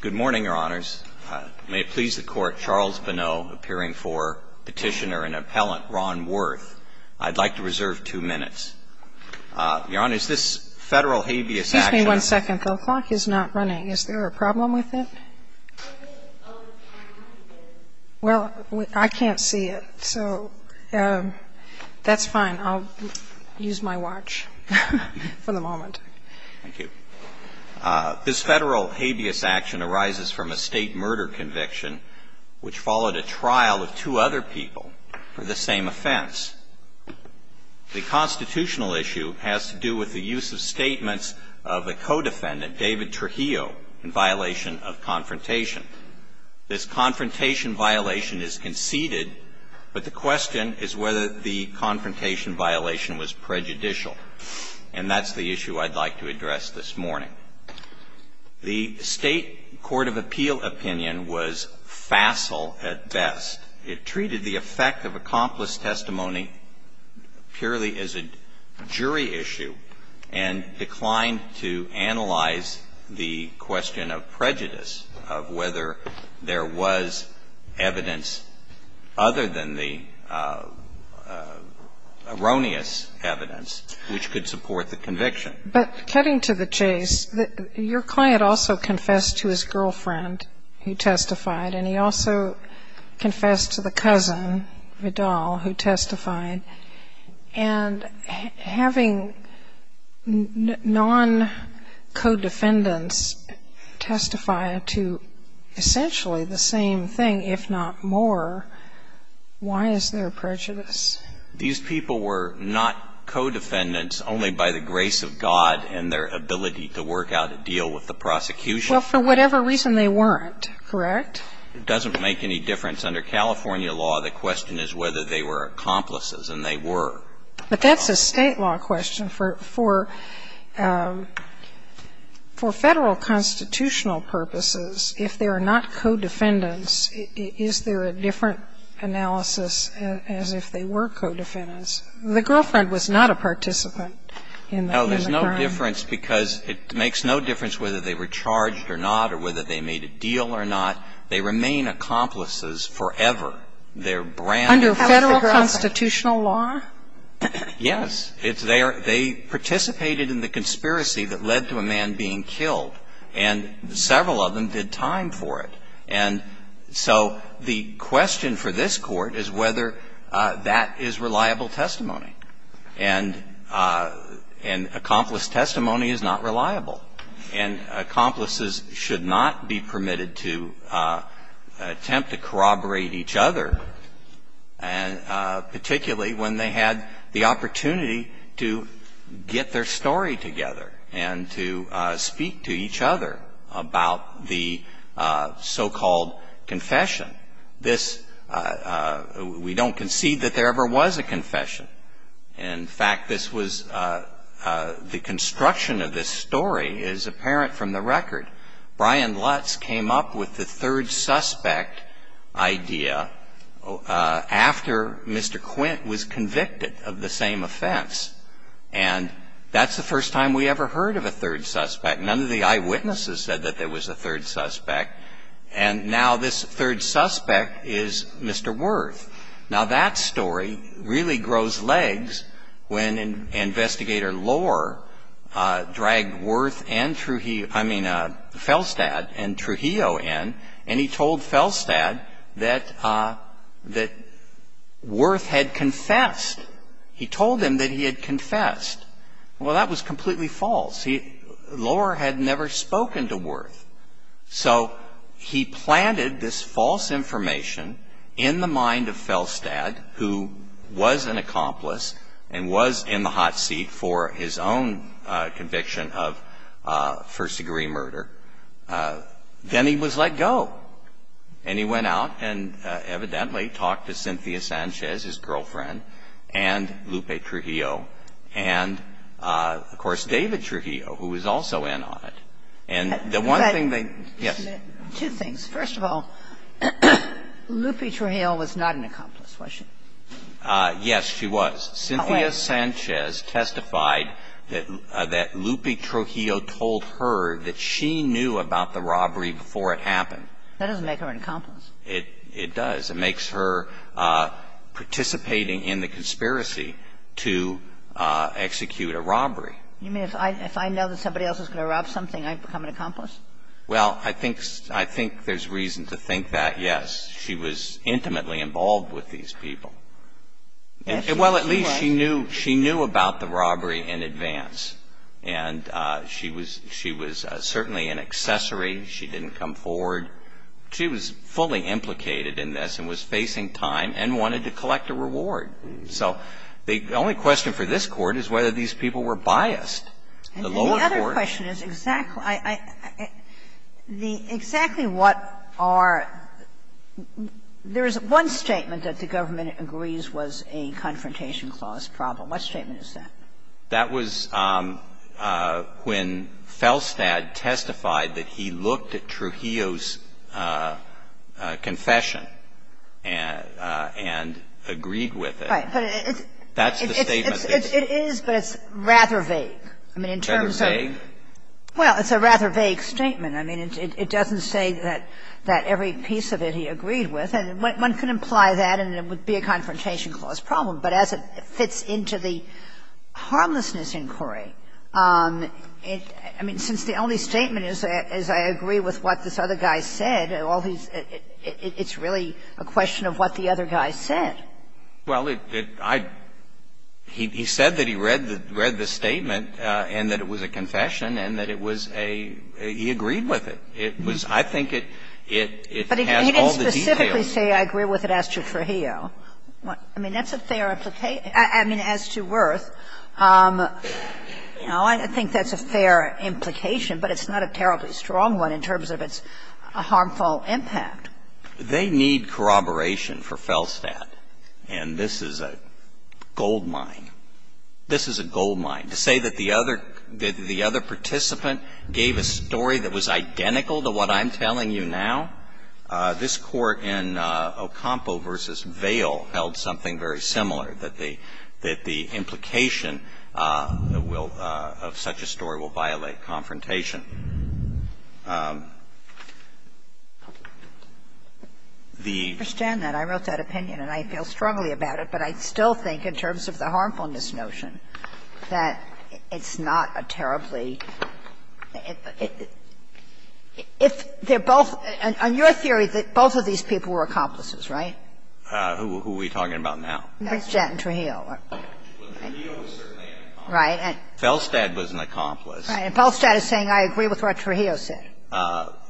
Good morning, Your Honors. May it please the Court, Charles Bonneau appearing for Petitioner and Appellant Ron Werth. I'd like to reserve two minutes. Your Honors, this Federal habeas action Excuse me one second. The clock is not running. Is there a problem with it? Well, I can't see it, so that's fine. I'll use my watch for the moment. Thank you. This Federal habeas action arises from a State murder conviction which followed a trial of two other people for the same offense. The constitutional issue has to do with the use of statements of a co-defendant, David Trujillo, in violation of confrontation. This confrontation violation is conceded, but the question is whether the confrontation violation was prejudicial. And that's the issue I'd like to address this morning. The State court of appeal opinion was facile at best. It treated the effect of accomplice testimony purely as a jury issue and declined to analyze the question of prejudice, of whether there was evidence other than the erroneous evidence which could support the conviction. But cutting to the chase, your client also confessed to his girlfriend who testified, and he also confessed to the cousin, Vidal, who testified. And having non-co-defendants testify to essentially the same thing, if not more, why is there prejudice? These people were not co-defendants only by the grace of God and their ability to work out a deal with the prosecution? Well, for whatever reason, they weren't, correct? It doesn't make any difference. Under California law, the question is whether they were accomplices, and they were. But that's a State law question. For Federal constitutional purposes, if they are not co-defendants, is there a different analysis as if they were co-defendants? The girlfriend was not a participant in the crime. No. There's no difference because it makes no difference whether they were charged or not or whether they made a deal or not. They remain accomplices forever. Under Federal constitutional law? Yes. They participated in the conspiracy that led to a man being killed, and several of them did time for it. And so the question for this Court is whether that is reliable testimony. And accomplice testimony is not reliable. And accomplices should not be permitted to attempt to corroborate each other, particularly when they had the opportunity to get their story together and to speak to each other about the so-called confession. This we don't concede that there ever was a confession. In fact, this was the construction of this story is apparent from the record. Brian Lutz came up with the third suspect idea after Mr. Quint was convicted of the same offense. And that's the first time we ever heard of a third suspect. None of the eyewitnesses said that there was a third suspect. And now this third suspect is Mr. Worth. Now, that story really grows legs when Investigator Lohr dragged Worth and Trujillo – I mean, Felstad and Trujillo in, and he told Felstad that Worth had confessed. He told him that he had confessed. Well, that was completely false. Lohr had never spoken to Worth. So he planted this false information in the mind of Felstad, who was an accomplice and was in the hot seat for his own conviction of first-degree murder. Then he was let go. And he went out and evidently talked to Cynthia Sanchez, his girlfriend, and Lupe Trujillo, and, of course, David Trujillo, who was also in on it. And the one thing they – yes. Two things. First of all, Lupe Trujillo was not an accomplice, was she? Yes, she was. Cynthia Sanchez testified that Lupe Trujillo told her that she knew about the robbery before it happened. That doesn't make her an accomplice. It does. It makes her participating in the conspiracy to execute a robbery. You mean if I know that somebody else is going to rob something, I become an accomplice? Well, I think there's reason to think that, yes. She was intimately involved with these people. Yes, she was. Well, at least she knew about the robbery in advance. And she was certainly an accessory. She didn't come forward. She was fully implicated in this and was facing time and wanted to collect a reward. So the only question for this Court is whether these people were biased. The lower court – And the other question is exactly what are – there is one statement that the government agrees was a confrontation clause problem. What statement is that? That was when Felstad testified that he looked at Trujillo's confession and agreed with it. Right. But it's – That's the statement. It is, but it's rather vague. I mean, in terms of – Rather vague? Well, it's a rather vague statement. I mean, it doesn't say that every piece of it he agreed with. And one can imply that and it would be a confrontation clause problem. But as it fits into the harmlessness inquiry, I mean, since the only statement is I agree with what this other guy said, all these – it's really a question of what the other guy said. Well, I – he said that he read the statement and that it was a confession and that it was a – he agreed with it. It was – I think it has all the details. But he didn't specifically say I agree with it as to Trujillo. I mean, that's a fair – I mean, as to Wirth, you know, I think that's a fair implication, but it's not a terribly strong one in terms of its harmful impact. They need corroboration for Felstad. And this is a goldmine. This is a goldmine. To say that the other participant gave a story that was identical to what I'm telling you now, this Court in Ocampo v. Vail held something very similar, that the – that the implication will – of such a story will violate confrontation. The – I understand that. I wrote that opinion and I feel strongly about it, but I still think in terms of the theory, that both of these people were accomplices, right? Who are we talking about now? Felstad and Trujillo. Well, Trujillo was certainly an accomplice. Right. Felstad was an accomplice. Right. And Felstad is saying I agree with what Trujillo said.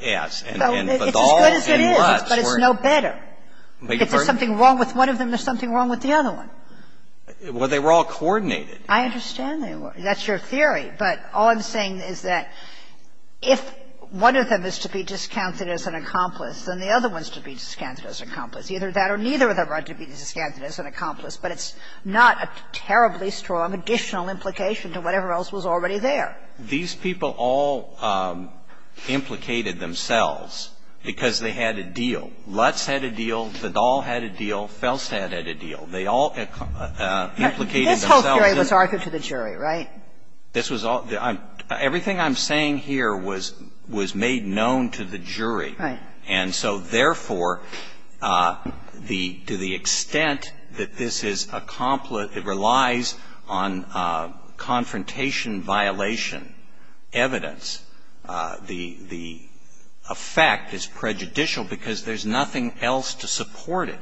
Yes. It's as good as it is, but it's no better. If there's something wrong with one of them, there's something wrong with the other Well, they were all coordinated. I understand they were. That's your theory. But all I'm saying is that if one of them is to be discounted as an accomplice, then the other one is to be discounted as an accomplice. Either that or neither of them are to be discounted as an accomplice, but it's not a terribly strong additional implication to whatever else was already there. These people all implicated themselves because they had a deal. Lutz had a deal. Zadal had a deal. Felstad had a deal. They all implicated themselves. This whole theory was argued to the jury, right? This was all the ‑‑ everything I'm saying here was made known to the jury. Right. And so, therefore, the ‑‑ to the extent that this is a ‑‑ it relies on confrontation violation evidence, the effect is prejudicial because there's nothing else to support it.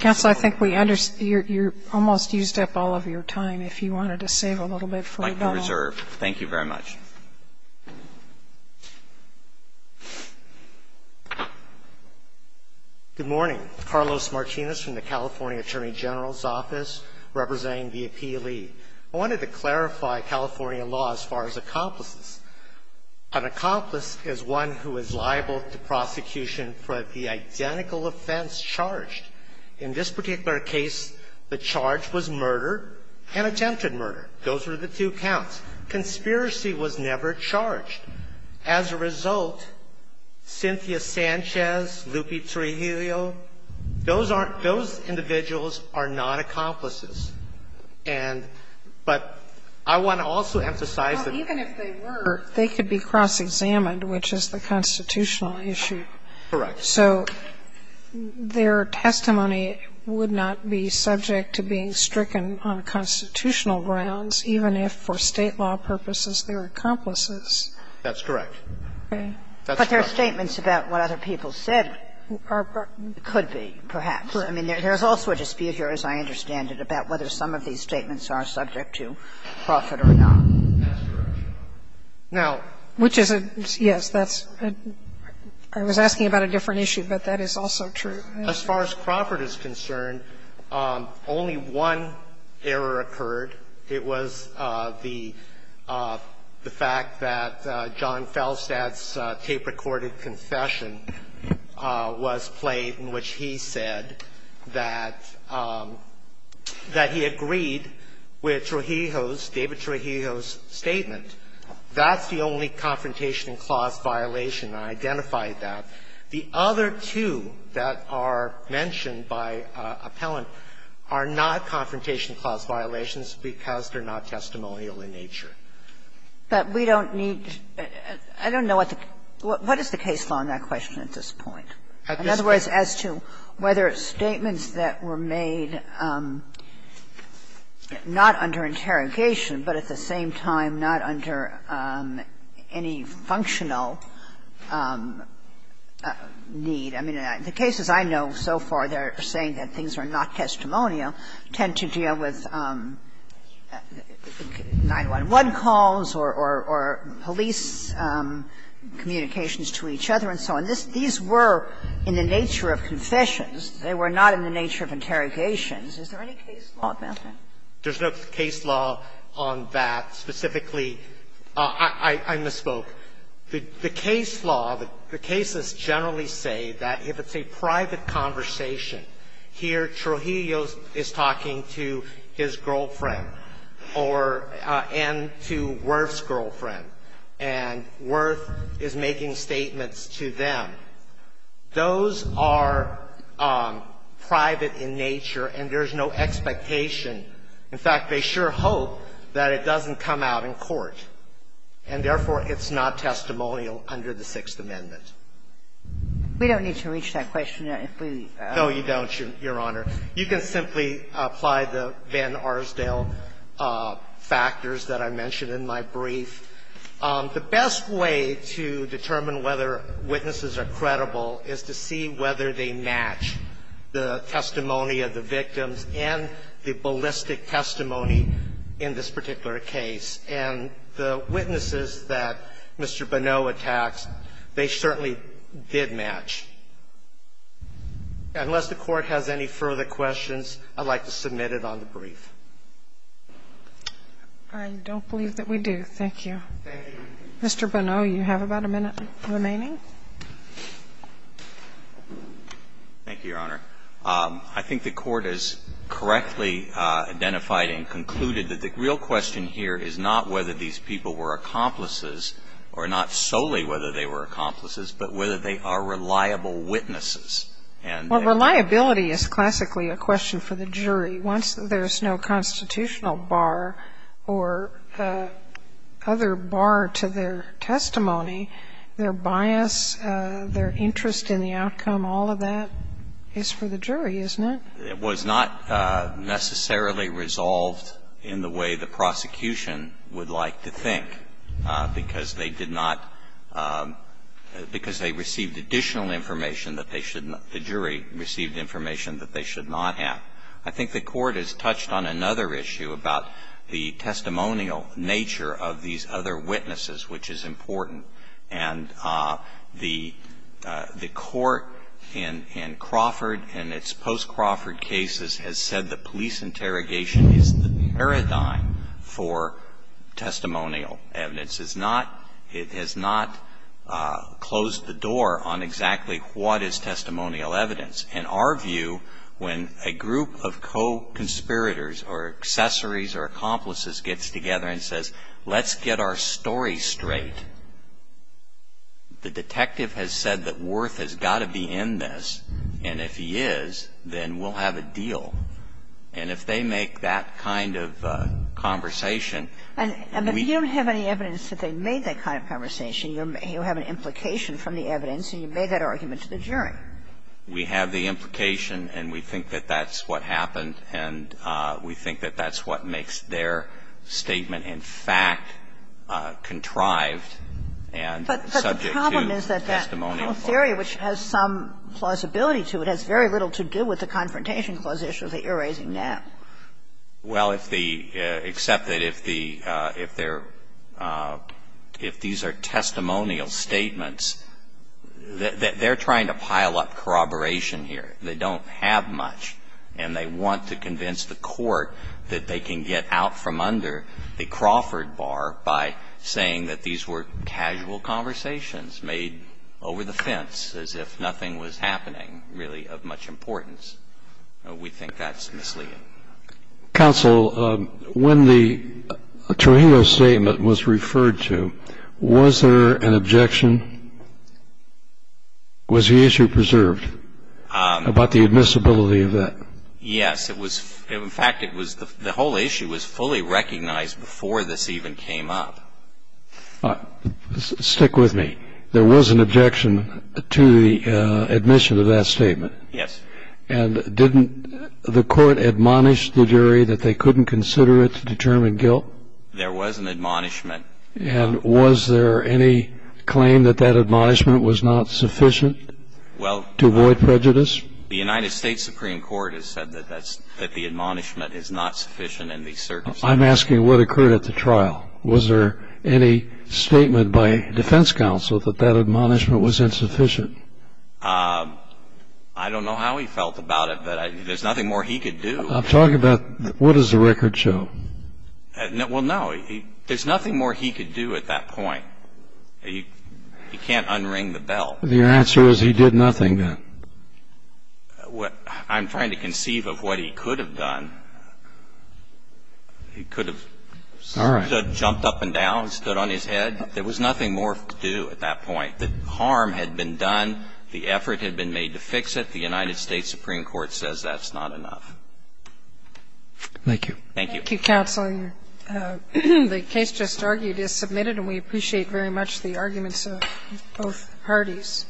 Counsel, I think we ‑‑ you almost used up all of your time. If you wanted to save a little bit for a dollar. I'd like to reserve. Thank you very much. Good morning. Carlos Martinez from the California Attorney General's Office representing the APLE. I wanted to clarify California law as far as accomplices. An accomplice is one who is liable to prosecution for the identical offense charged. In this particular case, the charge was murder and attempted murder. Those were the two counts. Conspiracy was never charged. As a result, Cynthia Sanchez, Lupi Trejillo, those are ‑‑ those individuals are not accomplices. And ‑‑ but I want to also emphasize that ‑‑ Well, even if they were, they could be cross-examined, which is the constitutional issue. Correct. So their testimony would not be subject to being stricken on constitutional grounds, even if for State law purposes they were accomplices. That's correct. Okay. But their statements about what other people said are ‑‑ could be, perhaps. I mean, there's also a dispute here, as I understand it, about whether some of these statements are subject to profit or not. That's correct. Now ‑‑ Which is a ‑‑ yes, that's ‑‑ I was asking about a different issue, but that is also true. As far as Crawford is concerned, only one error occurred. It was the fact that John Feldstadt's tape-recorded confession was played in which he said that ‑‑ that he agreed with Trejillo's, David Trejillo's statement. That's the only confrontation clause violation. I identified that. The other two that are mentioned by appellant are not confrontation clause violations because they're not testimonial in nature. But we don't need ‑‑ I don't know what the ‑‑ what is the case law on that question at this point? In other words, as to whether statements that were made not under interrogation but at the same time not under any functional need ‑‑ I mean, the cases I know so far, they're saying that things are not testimonial, tend to deal with 911 calls or police communications to each other and so on. These were in the nature of confessions. They were not in the nature of interrogations. Is there any case law about that? There's no case law on that specifically. I misspoke. The case law, the cases generally say that if it's a private conversation, here Trejillo is talking to his girlfriend or ‑‑ and to Wirth's girlfriend, and Wirth is making statements to them. Those are private in nature, and there's no expectation. In fact, they sure hope that it doesn't come out in court, and therefore it's not testimonial under the Sixth Amendment. We don't need to reach that question if we ‑‑ No, you don't, Your Honor. You can simply apply the Van Arsdale factors that I mentioned in my brief. The best way to determine whether witnesses are credible is to see whether they match the testimony of the victims and the ballistic testimony in this particular case. And the witnesses that Mr. Bonneau attacks, they certainly did match. Unless the Court has any further questions, I'd like to submit it on the brief. I don't believe that we do. Thank you. Mr. Bonneau, you have about a minute remaining. Thank you, Your Honor. I think the Court has correctly identified and concluded that the real question here is not whether these people were accomplices, or not solely whether they were accomplices, but whether they are reliable witnesses. Well, reliability is classically a question for the jury. Once there's no constitutional bar or other bar to their testimony, their bias, their interest in the outcome, all of that is for the jury, isn't it? It was not necessarily resolved in the way the prosecution would like to think, because they did not, because they received additional information that they should not, the jury received information that they should not have. I think the Court has touched on another issue about the testimonial nature of these other witnesses, which is important. And the Court in Crawford and its post-Crawford cases has said the police interrogation is the paradigm for testimonial evidence. It has not closed the door on exactly what is testimonial evidence. In our view, when a group of co-conspirators or accessories or accomplices gets together and says, let's get our story straight, the detective has said that Worth has got to be in this, and if he is, then we'll have a deal. And if they make that kind of conversation, we don't have any evidence that they made that kind of conversation. You have an implication from the evidence, and you made that argument to the jury. We have the implication, and we think that that's what happened, and we think that that's what makes their statement, in fact, contrived and subject to testimonial theory, which has some plausibility to it, has very little to do with the Confrontation Clause issue that you're raising now. Well, if the – except that if the – if they're – if these are testimonial statements, they're trying to pile up corroboration here. They don't have much, and they want to convince the Court that they can get out from under the Crawford bar by saying that these were casual conversations made over the fence, as if nothing was happening, really of much importance. We think that's misleading. Counsel, when the Trujillo statement was referred to, was there an objection? Was the issue preserved about the admissibility of that? Yes. It was – in fact, it was – the whole issue was fully recognized before this even came up. Stick with me. There was an objection to the admission of that statement. Yes. And didn't the Court admonish the jury that they couldn't consider it to determine guilt? There was an admonishment. And was there any claim that that admonishment was not sufficient to avoid prejudice? Well, the United States Supreme Court has said that that's – that the admonishment is not sufficient in these circumstances. I'm asking what occurred at the trial. Was there any statement by defense counsel that that admonishment was insufficient? I don't know how he felt about it, but there's nothing more he could do. I'm talking about – what does the record show? Well, no. There's nothing more he could do at that point. He can't unring the bell. Your answer is he did nothing, then? I'm trying to conceive of what he could have done. He could have jumped up and down, stood on his head. There was nothing more to do at that point. The harm had been done. The effort had been made to fix it. The United States Supreme Court says that's not enough. Thank you. Thank you, counsel. The case just argued is submitted, and we appreciate very much the arguments of both parties.